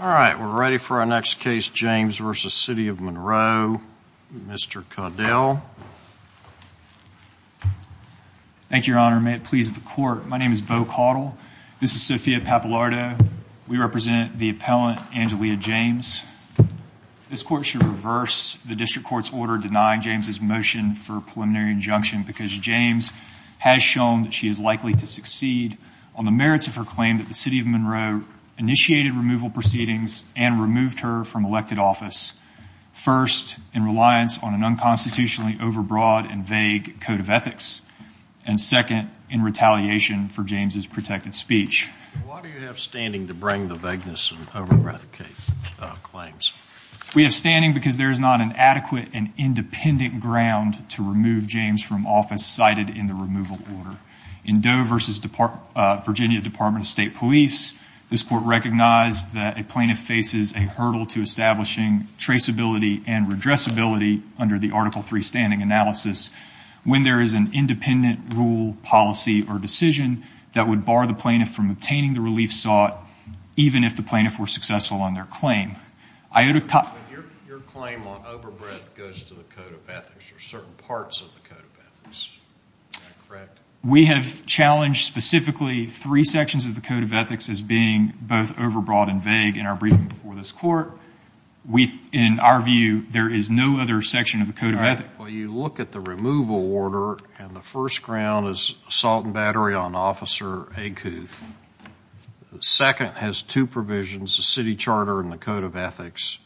All right, we're ready for our next case, James v. City of Monroe. Mr. Caudill. Thank you, your honor. May it please the court, my name is Beau Caudill. This is Sophia Pappalardo. We represent the appellant, Angelia James. This court should reverse the district court's order denying James's motion for preliminary injunction because James has shown that she is likely to succeed on the merits of her claim that the City of Monroe initiated removal proceedings and removed her from elected office, first, in reliance on an unconstitutionally overbroad and vague code of ethics, and second, in retaliation for James's protected speech. Why do you have standing to bring the vagueness and overbreath claims? We have standing because there is not an adequate and independent ground to remove James from office cited in the removal order. In Doe v. Virginia Department of State Police, this court recognized that a plaintiff faces a hurdle to establishing traceability and redressability under the Article III standing analysis when there is an independent rule, policy, or decision that would bar the plaintiff from obtaining the relief sought even if the plaintiff were successful on their claim. Your claim on overbreath goes to the code of ethics. There are certain parts of the code of ethics. Is that correct? We have challenged specifically three sections of the code of ethics as being both overbroad and vague in our briefing before this court. We, in our view, there is no other section of the code of ethics. Well, you look at the removal order and the first ground is assault and battery on Officer Egghooth. The second has two provisions, the city charter and the code of ethics.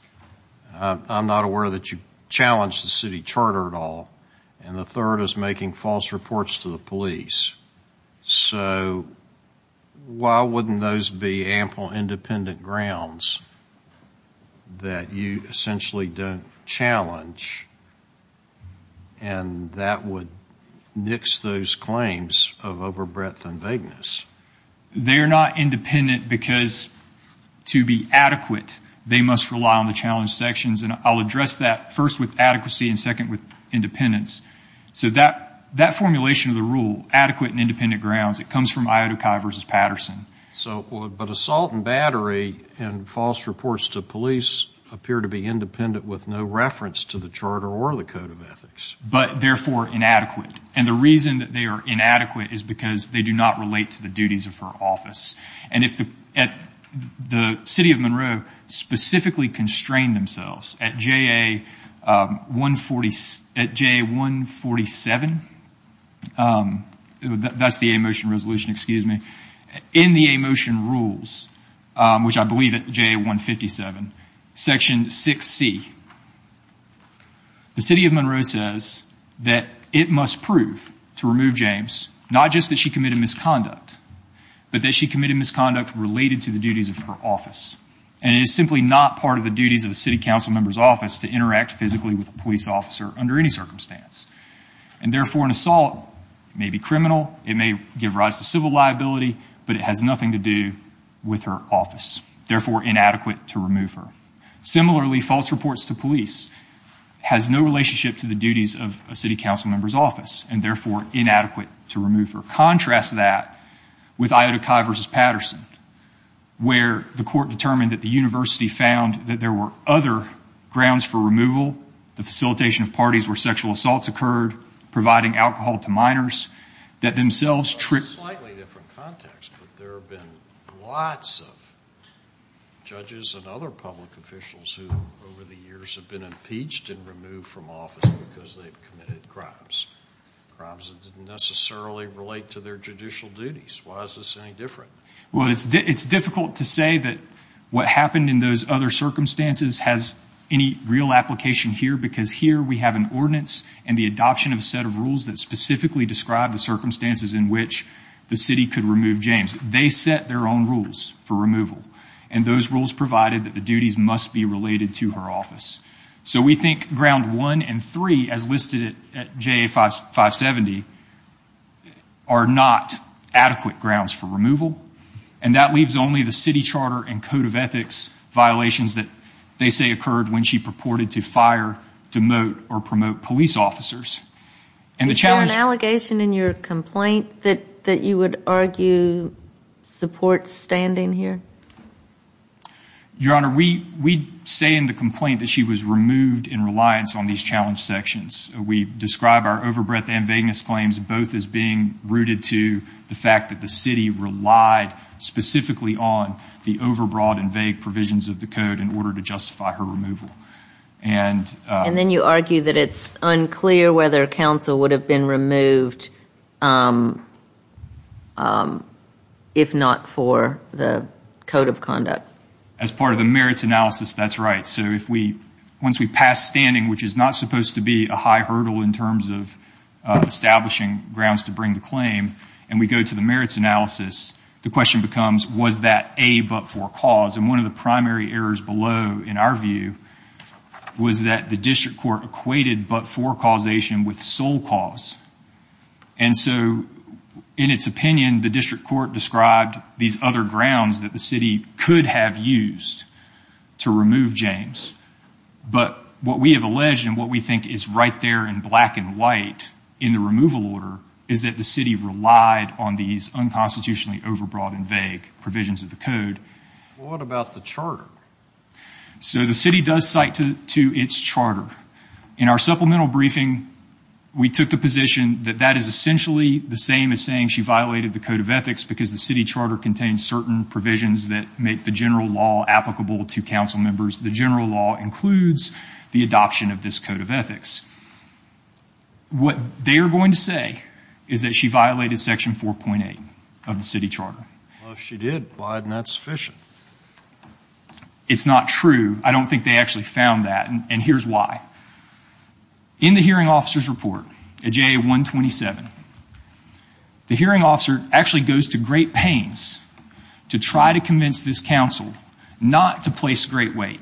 I'm not aware that you challenged the city charter at all. And the third is making false reports to the police. So why wouldn't those be ample independent grounds that you essentially don't challenge? And that would nix those claims of overbreadth and vagueness. They are not independent because to be adequate, they must rely on the challenge sections. And I'll address that first with adequacy and second with independence. So that formulation of the independent grounds, it comes from Iodakai v. Patterson. But assault and battery and false reports to police appear to be independent with no reference to the charter or the code of ethics. But therefore inadequate. And the reason that they are inadequate is because they do not relate to the duties of her office. And if the city of Monroe specifically constrained themselves at JA147, that's the a motion resolution, excuse me, in the a motion rules, which I believe at JA157, section 6C, the city of Monroe says that it must prove to remove James, not just that she committed misconduct, but that she committed misconduct related to the duties of her office. And it is under any circumstance. And therefore an assault may be criminal. It may give rise to civil liability, but it has nothing to do with her office. Therefore inadequate to remove her. Similarly, false reports to police has no relationship to the duties of a city council member's office and therefore inadequate to remove her. Contrast that with Iodakai v. Patterson, where the court determined that the university found that there were other grounds for removal, the facilitation of parties where sexual assaults occurred, providing alcohol to minors, that themselves tripped... It's a slightly different context, but there have been lots of judges and other public officials who over the years have been impeached and removed from office because they've committed crimes. Crimes that didn't necessarily relate to their judicial duties. Why is this any different? Well, it's difficult to say that what happened in those other circumstances has any real application here because here we have an ordinance and the adoption of a set of rules that specifically describe the circumstances in which the city could remove James. They set their own rules for removal. And those rules provided that the duties must be related to her office. So we think ground one and three, as listed at JA 570, are not adequate grounds for removal. And that leaves only the city charter and code of ethics violations that they say occurred when she purported to fire, demote, or promote police officers. Is there an allegation in your complaint that you would argue supports standing here? Your Honor, we say in the complaint that she was removed in reliance on these challenge sections. We describe our overbreadth and vagueness claims both as being rooted to the fact that the city relied specifically on the overbroad and vague provisions of the code in order to justify her removal. And then you argue that it's unclear whether counsel would have been removed if not for the code of conduct. As part of the merits analysis, that's right. So once we pass standing, which is not supposed to be a high hurdle in terms of establishing grounds to bring the claim, and we go to the merits analysis, the question becomes, was that a but-for cause? And one of the primary errors below, in our view, was that the district court equated but-for causation with sole cause. And so in its opinion, the district court described these other grounds that the city could have used to remove James. But what we have alleged and what we think is right there in black and white in the removal order is that the city relied on these unconstitutionally overbroad and vague provisions of the code. What about the charter? So the city does cite to its charter. In our supplemental briefing, we took the position that that is essentially the same as saying she violated the code of ethics because the city charter contains certain provisions that make the general law applicable to council members. The general law includes the adoption of this code of ethics. What they are going to say is that she violated section 4.8 of the city charter. Well, if she did, why isn't that sufficient? It's not true. I don't think they actually found that, and here's why. In the hearing officer's report at JA 127, the hearing officer actually goes to great pains to try to convince this council not to place great weight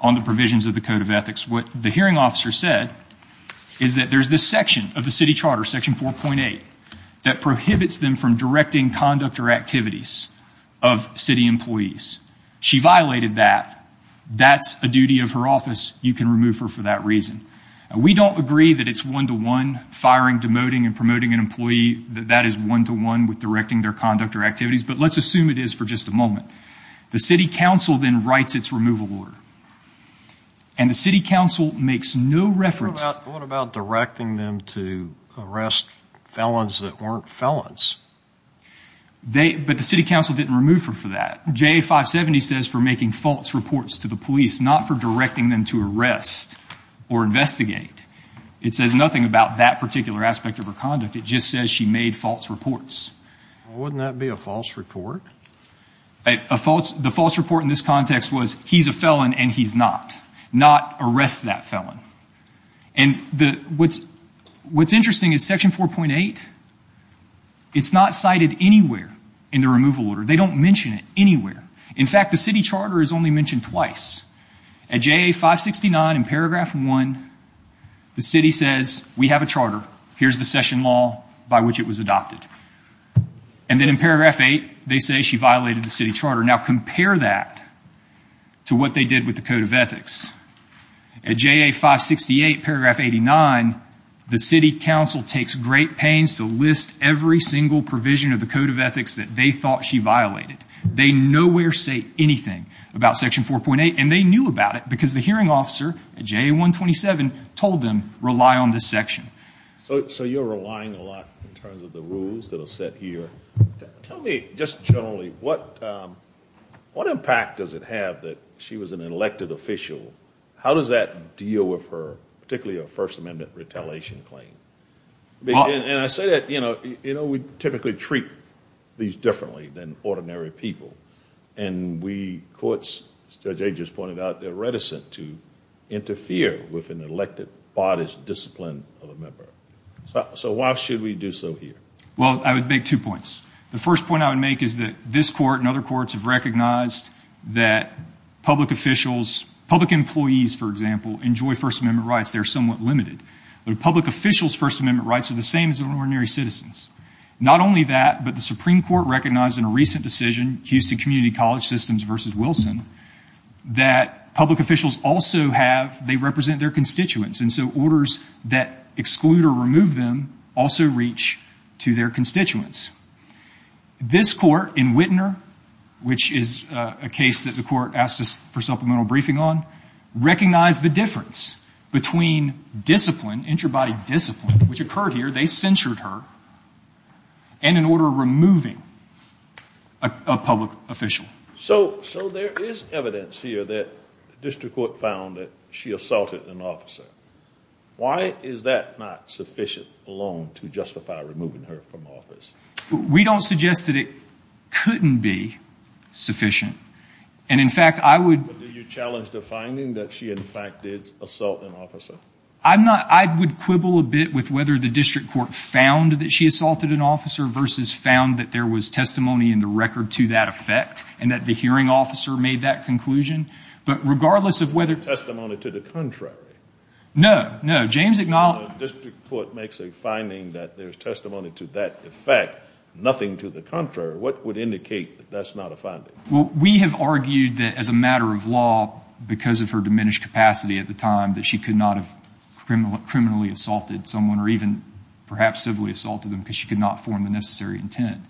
on the provisions of the code of ethics. What the hearing officer said is that there's this section of the city charter, section 4.8, that prohibits them from directing conduct or activities of city employees. She violated that. That's a duty of her office. You can remove her for that reason. We don't agree that it's one-to-one firing, demoting, and promoting an employee, that that is one-to-one with directing their conduct or activities, but let's assume it is for just a moment. The city council then writes its removal order, and the city council makes no reference... What about directing them to arrest felons that weren't felons? But the city council didn't remove her for that. JA 570 says for making false reports to the police, not for directing them to arrest or investigate. It says nothing about that particular aspect of her conduct. It just says she made false reports. Wouldn't that be a false report? The false report in this context was he's a felon and he's not. Not arrest that felon. And what's interesting is section 4.8, it's not cited anywhere in the removal order. They don't mention it anywhere. In fact, the city charter is only mentioned twice. At JA 569 in paragraph 1, the city says, we have a charter. Here's the session law by which it was adopted. And then in paragraph 8, they say she violated the city charter. Now compare that to what they did with the code of ethics. At JA 568 paragraph 89, the city council takes great pains to list every single provision of the code of ethics that they thought she violated. They nowhere say anything about section 4.8, and they knew about it because the hearing officer at JA 127 told them, rely on this section. So you're relying a lot in terms of the rules that are set here. Tell me just generally, what impact does it have that she was an elected official? How does that deal with her, particularly her First Amendment retaliation claim? And I say that, you know, we typically treat these differently than ordinary people. And we courts, as Judge Agers pointed out, they're reticent to interfere with an elected bodice discipline of a member. So why should we do so here? Well, I would make two points. The first point I would make is that this court and other courts have recognized that public officials, public employees, for example, enjoy First Amendment rights. They're somewhat limited. But a public official's First Amendment rights are the same as ordinary citizens. Not only that, but the Supreme Court recognized in a recent decision, Houston Community College Systems v. Wilson, that public officials also have, they represent their constituents. And so orders that exclude or remove them also reach to their constituents. This court in Wittener, which is a case that the court asked us for supplemental briefing on, recognized the difference between discipline, intrabody discipline, which occurred here, they censured her, and an order removing a public official. So there is evidence here that the district court found that she assaulted an officer. Why is that not sufficient alone to justify removing her from office? We don't suggest that it couldn't be sufficient. And in fact, I would... But did you challenge the finding that she, in fact, did assault an officer? I'm not, I would quibble a bit with whether the district court found that she assaulted an officer versus found that there was testimony in the record to that effect, and that the hearing officer made that conclusion. But regardless of whether... Testimony to the contrary. No, no. James acknowledged... District court makes a finding that there's testimony to that effect, nothing to the contrary. What would indicate that that's not a finding? Well, we have argued that as a matter of law, because of her diminished capacity at the time, that she could not have criminally assaulted someone, or even perhaps civilly assaulted them, because she could not form the necessary intent.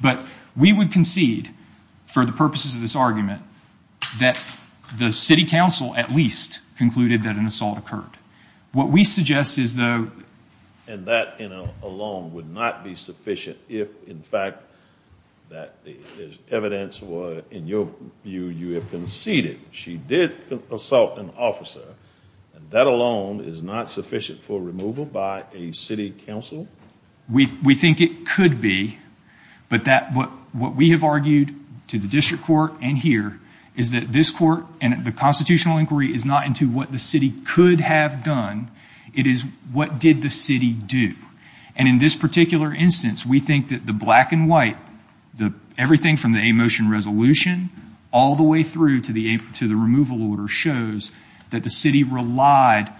But we would concede, for the purposes of this argument, that the city council at least concluded that an assault occurred. What we suggest is, though... And that alone would not be sufficient if, in fact, there's evidence where, in your view, you have conceded she did assault an officer, and that alone is not sufficient for removal by a city council? We think it could be, but what we have argued to the district court and here is that this court and the constitutional inquiry is not into what the city could have done, it is what did the city do. And in this particular instance, we think that the black and white, everything from the a motion resolution all the way through to the removal order shows that the city relied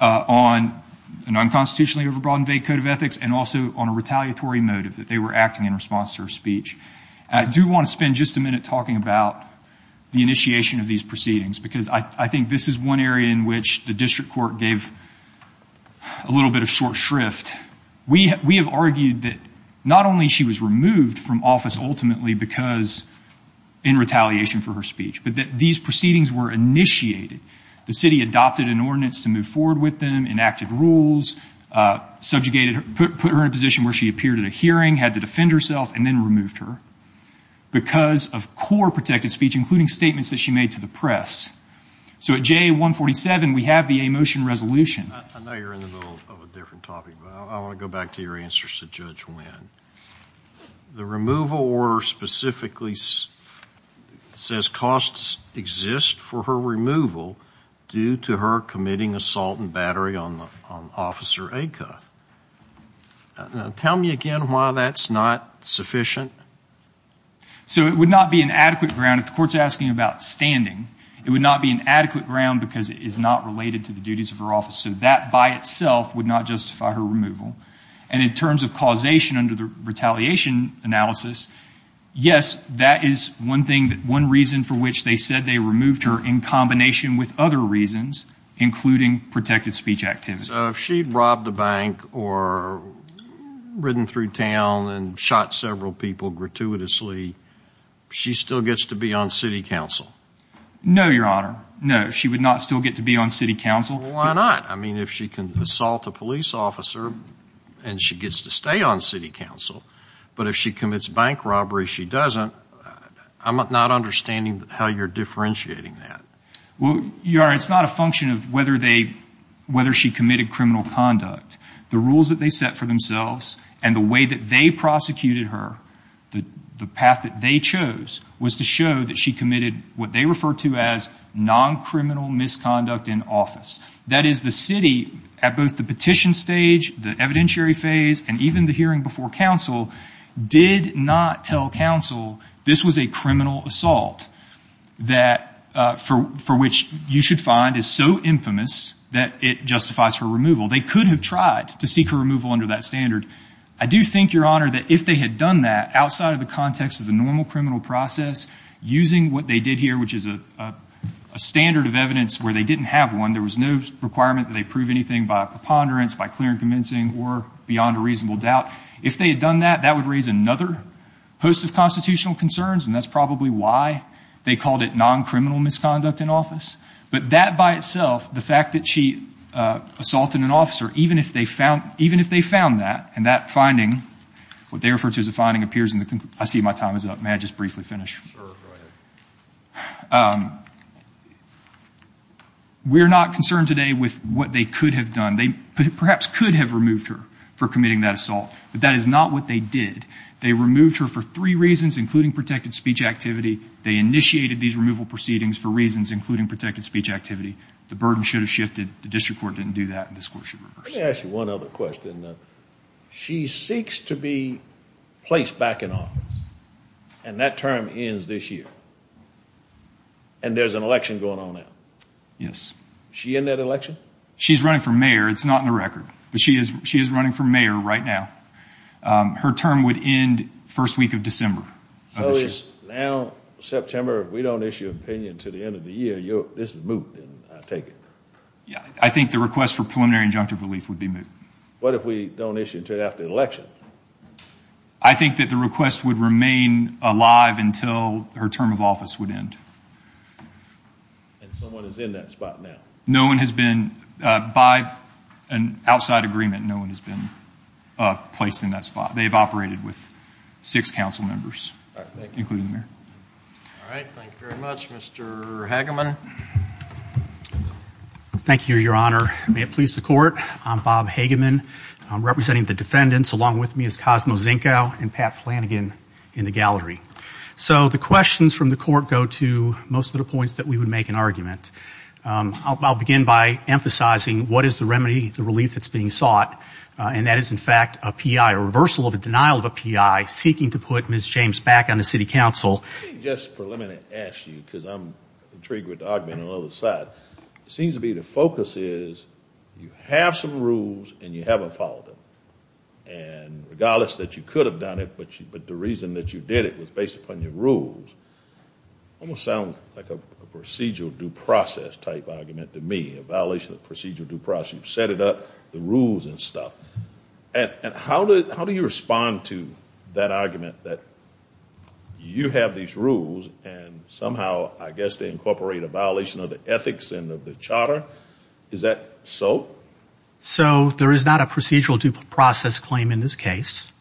on an unconstitutionally overbroadened vague code of ethics, and also on a retaliatory motive that they were acting in response to her speech. I do want to spend just a minute talking about the initiation of these proceedings, because I think this is one area in which the district court gave a little bit of short shrift. We have argued that not only she was removed from office ultimately because in retaliation for her speech, but that these proceedings were initiated. The city adopted an ordinance to move forward with them, enacted rules, subjugated her, put her in a position where she appeared at a hearing, had to defend herself, and then removed her, because of core protected speech, including statements that she made to the press. So at J147, we have the a motion resolution. I know you're in the middle of a different topic, but I want to go back to your answers to Judge Wynn. The removal order specifically says costs exist for her removal due to her committing assault and battery on Officer Acuff. Tell me again why that's not sufficient? So it would not be an adequate ground, if the court's asking about standing, it would not be an adequate ground because it is not related to the duties of her office. So that by itself would not justify her removal. And in terms of causation under the retaliation analysis, yes, that is one thing, one reason for which they said they removed her in combination with other reasons, including protected speech activity. So if she robbed a bank or ridden through town and shot several people gratuitously, she still gets to be on city council? No, Your Honor. No, she would not still get to be on city council. Why not? I mean, if she can assault a police officer and she gets to stay on city council, but if she commits bank robbery, she doesn't. I'm not understanding how you're differentiating that. Well, Your Honor, it's not a function of whether they, whether she committed criminal conduct. The rules that they set for themselves and the way that they prosecuted her, the path that they chose was to show that she committed what they refer to as non-criminal misconduct in office. That is, the city, at both the petition stage, the evidentiary phase, and even the hearing before council, did not tell council this was a criminal assault that, for which you should find is so infamous that it justifies her removal. They could have to seek her removal under that standard. I do think, Your Honor, that if they had done that, outside of the context of the normal criminal process, using what they did here, which is a standard of evidence where they didn't have one, there was no requirement that they prove anything by preponderance, by clear and convincing, or beyond a reasonable doubt. If they had done that, that would raise another host of constitutional concerns, and that's probably why they called it non-criminal misconduct in office. But that by itself, the fact that she assaulted an officer, even if they found that, and that finding, what they refer to as a finding, appears in the... I see my time is up. May I just briefly finish? We're not concerned today with what they could have done. They perhaps could have removed her for committing that assault, but that is not what they did. They removed her for three reasons, including protected speech activity. They initiated these removal proceedings for reasons including protected speech activity. The burden should have shifted. The district court didn't do that, and this court should reverse it. Let me ask you one other question. She seeks to be placed back in office, and that term ends this year, and there's an election going on now. Yes. She in that election? She's running for mayor. It's not in the record, but she is running for mayor right now. Her term would end first week of December. So it's now September. If we don't issue an opinion until the end of the year, this is moot, then I take it. Yeah, I think the request for preliminary injunctive relief would be moot. What if we don't issue it until after the election? I think that the request would remain alive until her term of office would end. And someone is in that spot now? No one has been, by an outside agreement, no one has been placed in that spot. They've operated with six council members, including the mayor. All right. Thank you very much. Mr. Hageman? Thank you, Your Honor. May it please the court, I'm Bob Hageman. Representing the defendants along with me is Cosmo Zinkow and Pat Flanagan in the gallery. So the questions from the court go to most of the points that we would make an and that is, in fact, a P.I., a reversal of a denial of a P.I. seeking to put Ms. James back on the city council. Let me just ask you, because I'm intrigued with the argument on the other side. It seems to me the focus is you have some rules and you haven't followed them. And regardless that you could have done it, but the reason that you did it was based upon your rules, almost sounds like a procedural due process type argument to me, a violation of procedural due process. You've set it up, the rules and stuff. And how do you respond to that argument that you have these rules and somehow I guess they incorporate a violation of the ethics and of the charter? Is that so? So there is not a procedural due process claim in this case.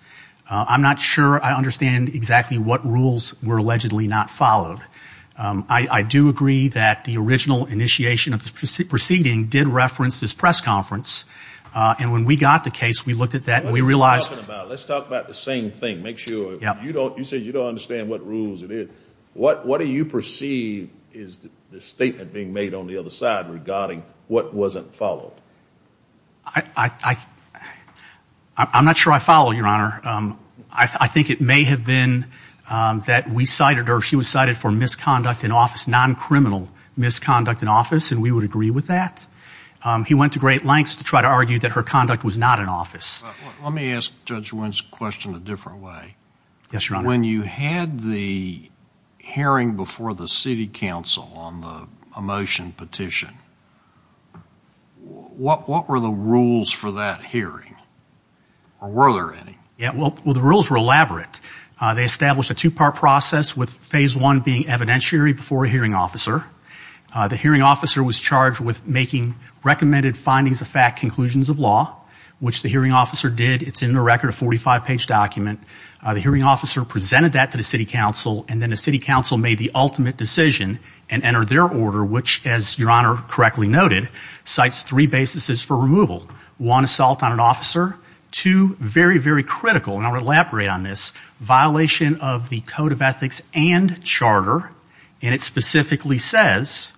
I'm not sure I understand exactly what rules were allegedly not followed. I do agree that the original initiation of the proceeding did reference this press conference. And when we got the case, we looked at that and we realized. Let's talk about the same thing. You said you don't understand what rules it is. What do you perceive is the statement being made on the other side regarding what wasn't followed? I'm not sure I follow, Your Honor. I think it may have been that we cited her. She was cited for misconduct in office, non-criminal misconduct in office, and we would agree with that. He went to great lengths to try to argue that her conduct was not in office. Let me ask Judge Wynn's question a different way. Yes, Your Honor. When you had the hearing before the city council on the motion petition, what were the rules for that hearing? Or were there any? Well, the rules were elaborate. They established a two-part process with phase one being evidentiary before a hearing officer. The hearing officer was charged with making recommended findings of fact conclusions of law, which the hearing officer did. It's in a record of 45-page document. The hearing officer presented that to the city council, and then the city council made the ultimate decision and entered their order, which, as Your Honor correctly noted, cites three basis for removal. One, assault on an officer. Two, very, very critical, and I'll elaborate on this, violation of the code of ethics and charter, and it specifically says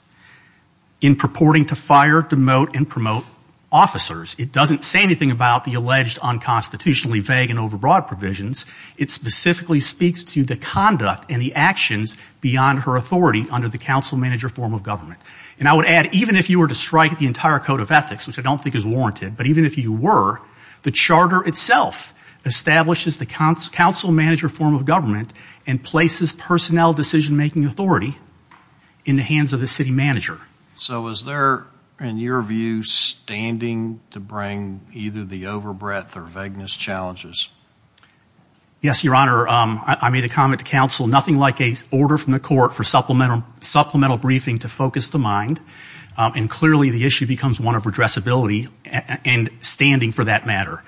in purporting to fire, demote, and promote officers. It doesn't say anything about the alleged unconstitutionally vague and overbroad provisions. It specifically speaks to the conduct and the actions beyond her authority under the council manager form of government. And I would even if you were to strike the entire code of ethics, which I don't think is warranted, but even if you were, the charter itself establishes the council manager form of government and places personnel decision-making authority in the hands of the city manager. So was there, in your view, standing to bring either the overbreadth or vagueness challenges? Yes, Your Honor. I made a comment to council. Nothing like an order from the court for and clearly the issue becomes one of addressability and standing for that matter.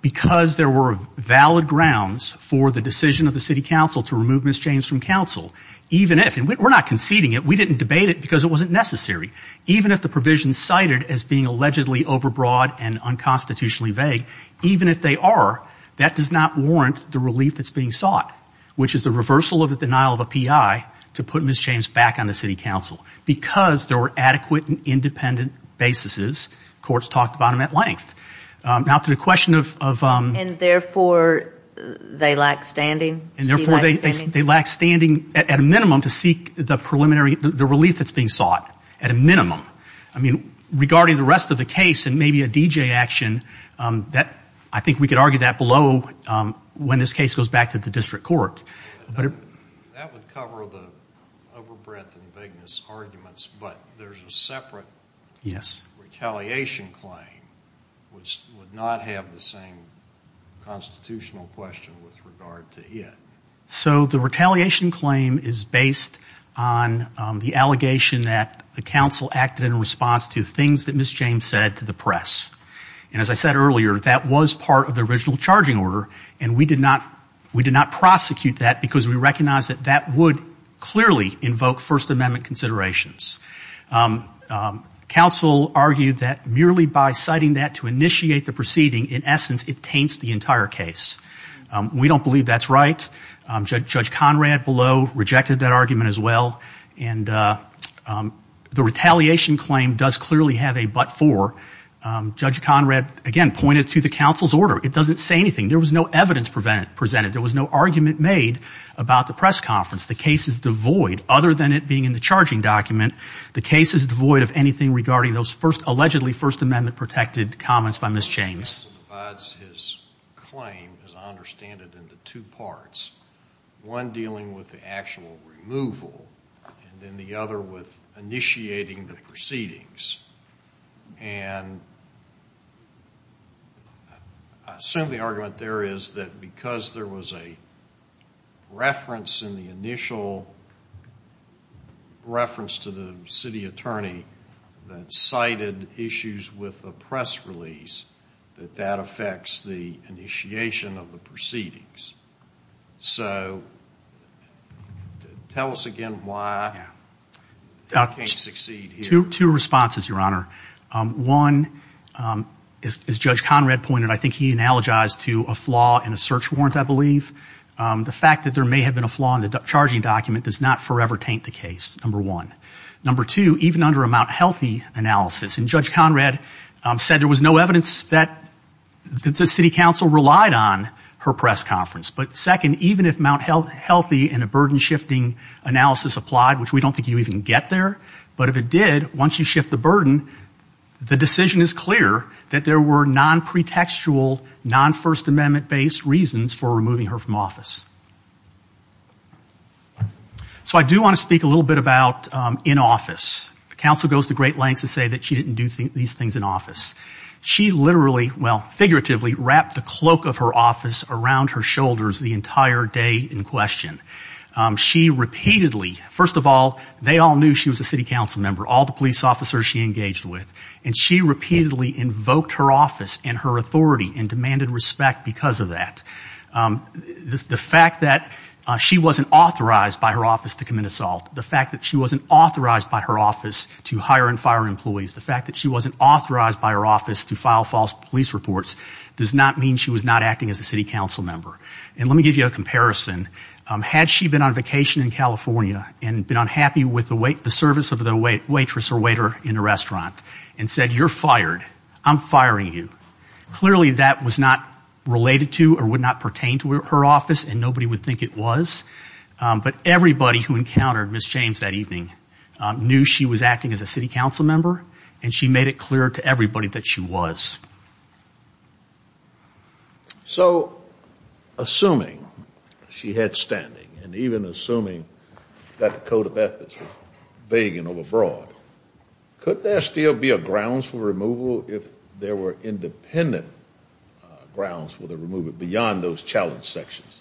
Because there were valid grounds for the decision of the city council to remove Ms. James from council, even if, and we're not conceding it, we didn't debate it because it wasn't necessary, even if the provision cited as being allegedly overbroad and unconstitutionally vague, even if they are, that does not warrant the relief that's being sought, which is the reversal of the adequate and independent basis as courts talked about them at length. Now to the question of... And therefore, they lack standing? And therefore, they lack standing at a minimum to seek the preliminary, the relief that's being sought at a minimum. I mean, regarding the rest of the case and maybe a DJ action, I think we could argue that below when this case goes back to the district court. But that would cover the overbreadth and vagueness arguments, but there's a separate retaliation claim, which would not have the same constitutional question with regard to it. So the retaliation claim is based on the allegation that the council acted in response to things that Ms. James said to the press. And as I said earlier, that was part of the original discharging order, and we did not prosecute that because we recognized that that would clearly invoke First Amendment considerations. Council argued that merely by citing that to initiate the proceeding, in essence, it taints the entire case. We don't believe that's right. Judge Conrad below rejected that argument as well. And the retaliation claim does clearly have a four. Judge Conrad, again, pointed to the council's order. It doesn't say anything. There was no evidence presented. There was no argument made about the press conference. The case is devoid, other than it being in the charging document, the case is devoid of anything regarding those allegedly First Amendment-protected comments by Ms. James. The council divides his claim, as I understand it, into two parts, one dealing with the actual and I assume the argument there is that because there was a reference in the initial reference to the city attorney that cited issues with the press release, that that affects the initiation of the proceedings. So tell us again why that can't succeed here. Two responses, Your Honor. One, as Judge Conrad pointed, I think he analogized to a flaw in a search warrant, I believe. The fact that there may have been a flaw in the charging document does not forever taint the case, number one. Number two, even under a Mount Healthy analysis, and Judge Conrad said there was no evidence that the city council relied on her press conference. But second, even if Mount Healthy and a burden-shifting analysis applied, which we don't think you even get there, but if it did, once you shift the burden, the decision is clear that there were non-pretextual, non-First Amendment-based reasons for removing her from office. So I do want to speak a little bit about in office. The council goes to great lengths to say that she didn't do these things in office. She literally, well, figuratively wrapped the cloak of her office around her shoulders the entire day in question. She repeatedly, first of all, they all knew she was a city council member, all the police officers she engaged with, and she repeatedly invoked her office and her authority and demanded respect because of that. The fact that she wasn't authorized by her office to commit assault, the fact that she wasn't authorized by her office to hire and fire employees, the fact that she wasn't authorized by her office to file false police reports does not mean she was not acting as a city council member. And let me give you a comparison. Had she been on vacation in California and been unhappy with the service of the waitress or waiter in a restaurant and said, you're fired, I'm firing you, clearly that was not related to or would not pertain to her office, and nobody would think it was. But everybody who encountered Ms. James that evening knew she was acting as a city council member, and she made it clear to everybody that she was. So, assuming she had standing, and even assuming that the Code of Ethics was vague and overbroad, could there still be a grounds for removal if there were independent grounds for the removal beyond those challenge sections?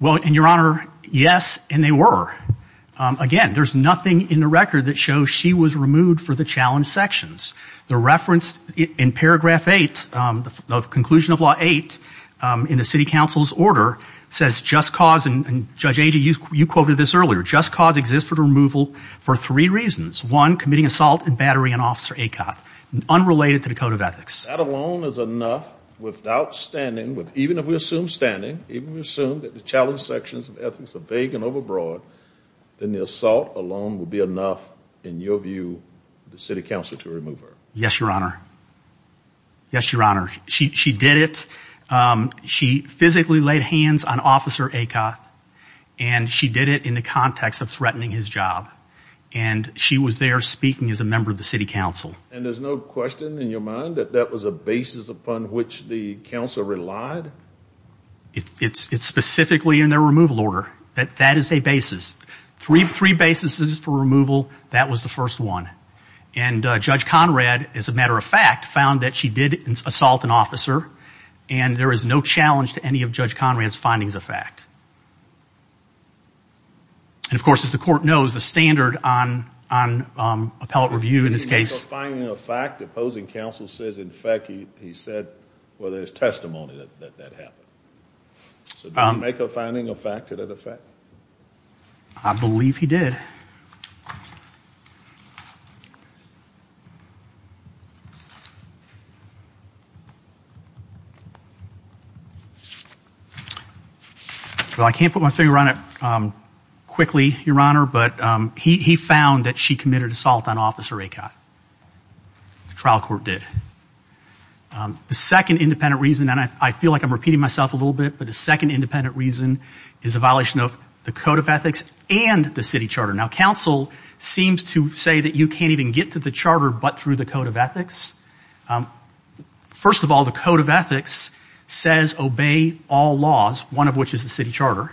Well, and your honor, yes, and they were. Again, there's nothing in the record that shows she was a city council member. The conclusion of Law 8 in the city council's order says, just cause, and Judge Agee, you quoted this earlier, just cause exists for the removal for three reasons. One, committing assault and battery on Officer Acott, unrelated to the Code of Ethics. That alone is enough without standing, even if we assume standing, even if we assume that the challenge sections of ethics are vague and overbroad, then the assault alone would be enough, in your view, the city council to remove her? Yes, your honor. Yes, your honor. She did it. She physically laid hands on Officer Acott, and she did it in the context of threatening his job, and she was there speaking as a member of the city council. And there's no question in your mind that that was a basis upon which the council relied? It's specifically in their removal order. That is a basis. Three basis for removal, that was the first one. And Judge Conrad, as a matter of fact, found that she did assault an officer, and there is no challenge to any of Judge Conrad's findings of fact. And of course, as the court knows, the standard on appellate review in this case... Did he make a finding of fact, opposing counsel says, in fact, he said, well, there's testimony that that happened. So did he make a finding of fact to that effect? I believe he did. Well, I can't put my finger on it quickly, your honor, but he found that she committed assault on Officer Acott. The trial court did. The second independent reason, and I feel like repeating myself a little bit, but the second independent reason is a violation of the Code of Ethics and the city charter. Now, counsel seems to say that you can't even get to the charter but through the Code of Ethics. First of all, the Code of Ethics says obey all laws, one of which is the city charter,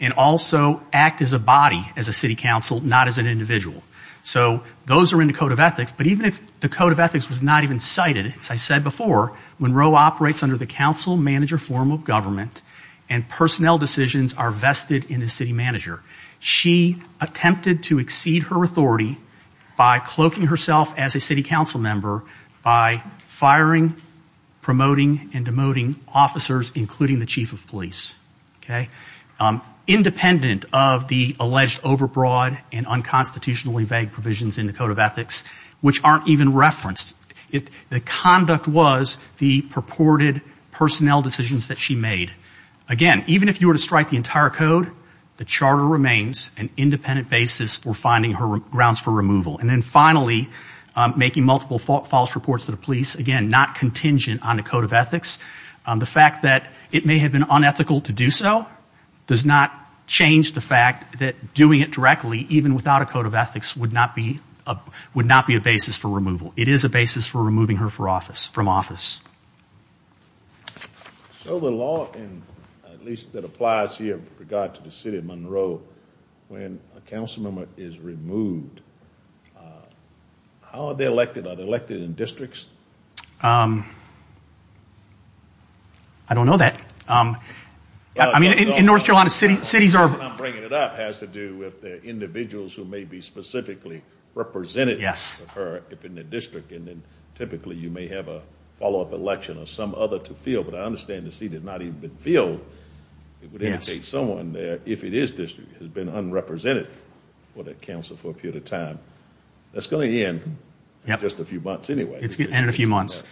and also act as a body, as a city council, not as an individual. So those are in the Code of Ethics. But even if the Code of Ethics was not even cited, as I said before, Monroe operates under the counsel-manager form of government, and personnel decisions are vested in a city manager. She attempted to exceed her authority by cloaking herself as a city council member by firing, promoting, and demoting officers, including the chief of police. Independent of the alleged overbroad and unconstitutionally provisions in the Code of Ethics, which aren't even referenced, the conduct was the purported personnel decisions that she made. Again, even if you were to strike the entire code, the charter remains an independent basis for finding her grounds for removal. And then finally, making multiple false reports to the police, again, not contingent on the Code of Ethics. The fact that it may have been unethical to do so does not change the fact that doing it directly, even without a Code of Ethics, would not be a basis for removal. It is a basis for removing her from office. So the law, at least that applies here with regard to the city of Monroe, when a council member is removed, how are they elected? Are they elected in districts? I don't know that. I mean, in North Carolina, cities are... I'm bringing it up, has to do with the individuals who may be specifically represented in the district. And then typically you may have a follow-up election or some other to fill. But I understand the seat has not even been filled. It would indicate someone there, if it is district, has been unrepresented for the council for a period of time. That's going to end in just a few months anyway. It's going to end in a few months.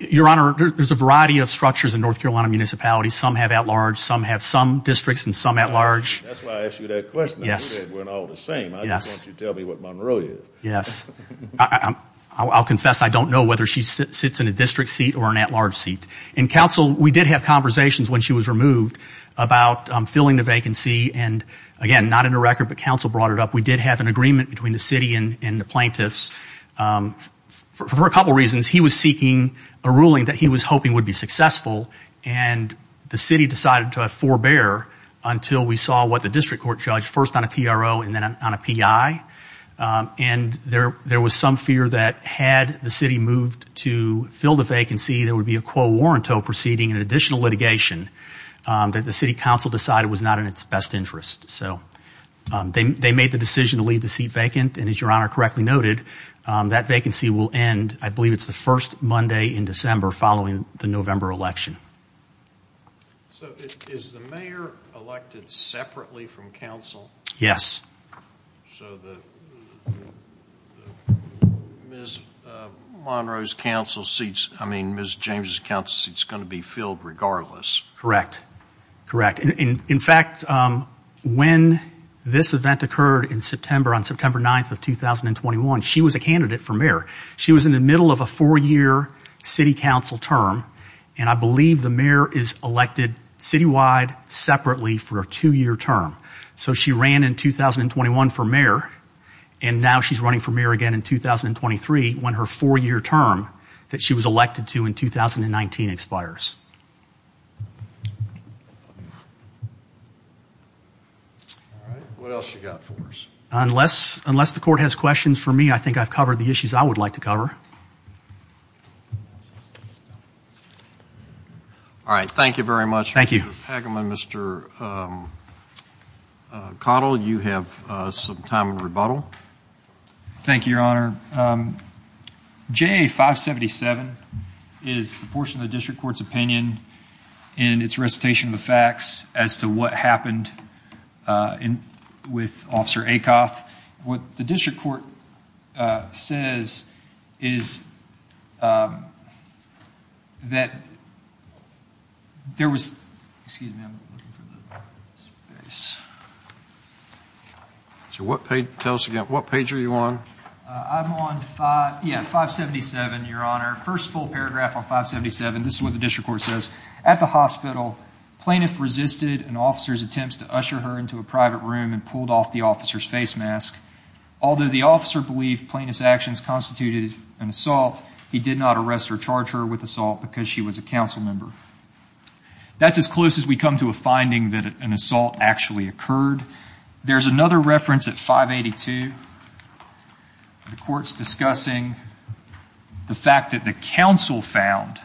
Your Honor, there's a variety of structures in North Carolina municipalities. Some have districts and some at-large. That's why I asked you that question. Yes. We're all the same. I just want you to tell me what Monroe is. Yes. I'll confess I don't know whether she sits in a district seat or an at-large seat. In council, we did have conversations when she was removed about filling the vacancy. And again, not in a record, but council brought it up, we did have an agreement between the city and the plaintiffs. For a couple of reasons, he was seeking a ruling that he was hoping would be until we saw what the district court judge first on a TRO and then on a PI. And there was some fear that had the city moved to fill the vacancy, there would be a quo warranto proceeding and additional litigation that the city council decided was not in its best interest. So they made the decision to leave the seat vacant. And as Your Honor correctly noted, that vacancy will end, I believe it's the first Monday in December following the November election. So is the mayor elected separately from council? Yes. So Ms. Monroe's council seats, I mean Ms. James' council seats going to be filled regardless? Correct. Correct. In fact, when this event occurred in September, on September 9th of 2021, she was a candidate for mayor. She was in the middle of a four-year city council term. And I the mayor is elected citywide separately for a two-year term. So she ran in 2021 for mayor, and now she's running for mayor again in 2023 when her four-year term that she was elected to in 2019 expires. What else you got for us? Unless the court has questions for me, I think I've covered the issues I would like to cover. All right. Thank you very much, Mr. Pagama. Mr. Cottle, you have some time of rebuttal. Thank you, Your Honor. JA577 is the portion of the district court's opinion and its recitation of the facts as to what happened with Officer Acoff. What the district court says is that there was, excuse me, I'm looking for the space. So what page, tell us again, what page are you on? I'm on 577, Your Honor. First full paragraph on 577. This is what the district court says. At the hospital, plaintiff resisted an officer's attempts to usher her into a private room and an assault. He did not arrest or charge her with assault because she was a council member. That's as close as we come to a finding that an assault actually occurred. There's another reference at 582. The court's discussing the fact that the council found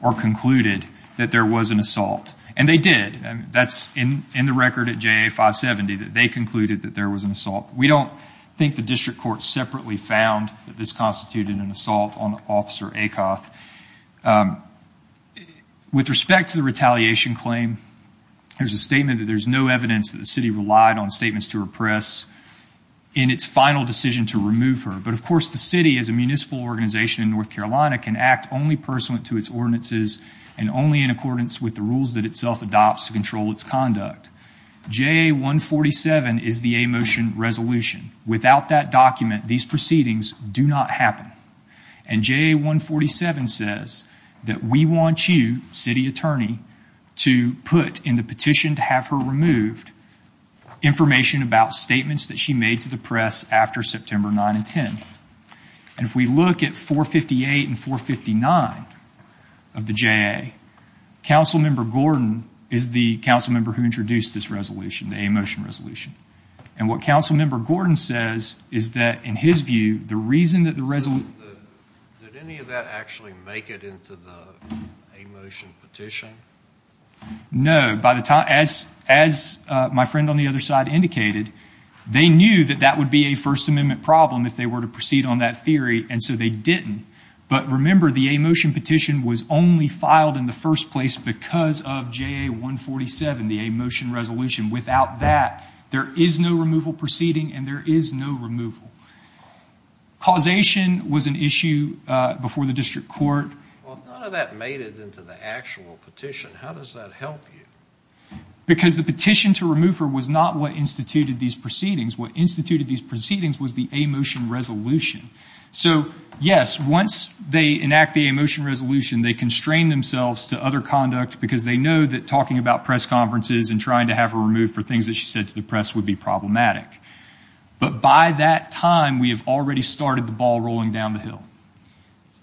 or concluded that there was an assault, and they did. That's in the record at JA570, that they concluded that there was an assault. We don't think the district court separately found that this constituted an assault on Officer Acoff. With respect to the retaliation claim, there's a statement that there's no evidence that the city relied on statements to repress in its final decision to remove her. But of course, the city as a municipal organization in North Carolina can act only pursuant to its ordinances and only in accordance with the rules that itself adopts to control its conduct. JA147 is the a motion resolution. Without that document, these proceedings do not happen. And JA147 says that we want you, city attorney, to put in the petition to have her removed information about statements that she made to the press after September 9 and 10. And if we look at 458 and 459 of the JA, Council Member Gordon is the council member who introduced this resolution, the a motion resolution. And what Council Member Gordon says is that, in his view, the reason that the resolution... Did any of that actually make it into the a motion petition? No. As my friend on the other side indicated, they knew that that would be a First Amendment problem if they were to proceed on that theory, and so they didn't. But remember, the a motion petition was only filed in the first place because of JA147, the a motion resolution. Without that, there is no removal proceeding and there is no removal. Causation was an issue before the district court. Well, if none of that made it into the actual petition, how does that help you? Because the petition to remove her was not what instituted these proceedings. What instituted these proceedings was the a motion resolution. So, yes, once they enact the a motion resolution, they constrain themselves to other conduct because they know that talking about press conferences and trying to have her removed for things that she said to the press would be problematic. But by that time, we have already started the ball rolling down the hill.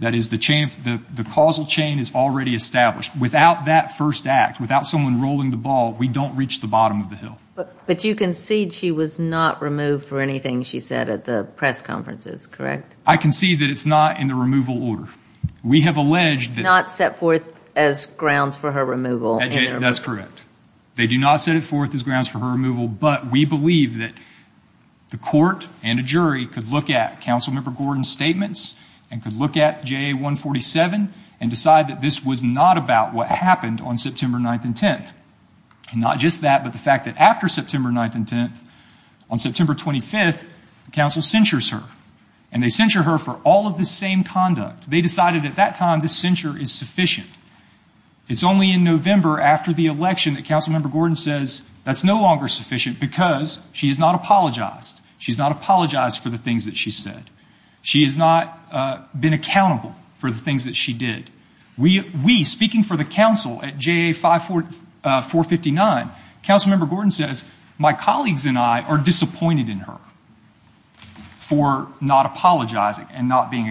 That is, the causal chain is already established. Without that first act, without someone rolling the ball, we don't reach the bottom of the hill. But you concede she was not removed for anything she said at the press conferences, correct? I concede that it's not in That's correct. They do not set it forth as grounds for her removal, but we believe that the court and a jury could look at Councilmember Gordon's statements and could look at JA147 and decide that this was not about what happened on September 9th and 10th. And not just that, but the fact that after September 9th and 10th, on September 25th, the council censures her. And they censure her for all of the same conduct. They decided at that time this censure is November after the election that Councilmember Gordon says that's no longer sufficient because she has not apologized. She's not apologized for the things that she said. She has not been accountable for the things that she did. We, speaking for the council at JA459, Councilmember Gordon says, my colleagues and I are disappointed in her for not apologizing and not being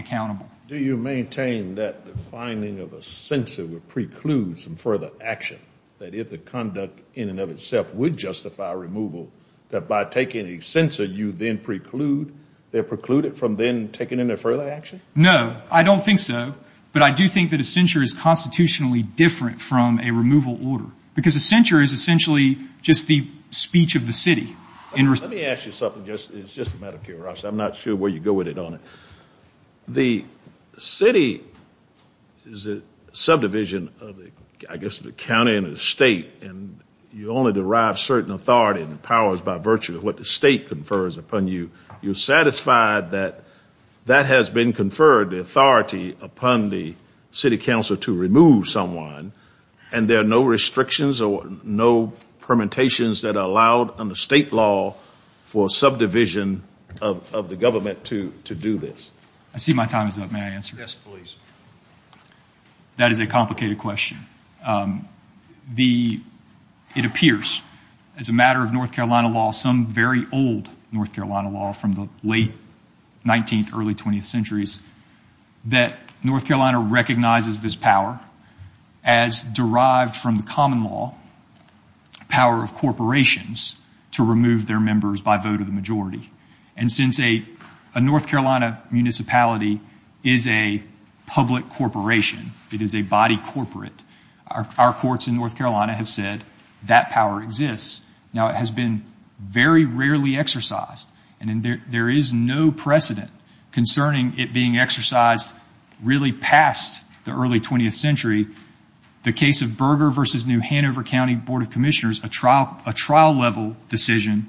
that if the conduct in and of itself would justify removal, that by taking a censure, you then preclude, they preclude it from then taking any further action? No, I don't think so. But I do think that a censure is constitutionally different from a removal order. Because a censure is essentially just the speech of the city. Let me ask you something. It's just a matter of the county and the state, and you only derive certain authority and powers by virtue of what the state confers upon you. You're satisfied that that has been conferred the authority upon the city council to remove someone, and there are no restrictions or no permutations that are allowed under state law for subdivision of the government to do this? I see my time is up. May I answer? Yes, please. That is a complicated question. The, it appears as a matter of North Carolina law, some very old North Carolina law from the late 19th, early 20th centuries, that North Carolina recognizes this power as derived from the common law, power of corporations to remove their members by vote of corporation. It is a body corporate. Our courts in North Carolina have said that power exists. Now, it has been very rarely exercised, and there is no precedent concerning it being exercised really past the early 20th century. The case of Berger v. New Hanover County Board of Commissioners, a trial level decision,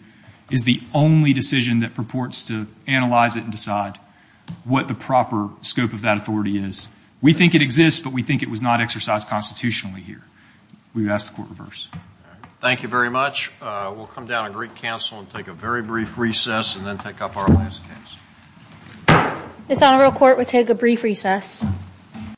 is the only decision that purports to analyze it and decide what the proper scope of that authority is. We think it exists, but we think it was not exercised constitutionally here. We've asked the court reverse. Thank you very much. We'll come down to Greek Council and take a very brief recess and then take up our last case. This Honorable Court will take a brief recess.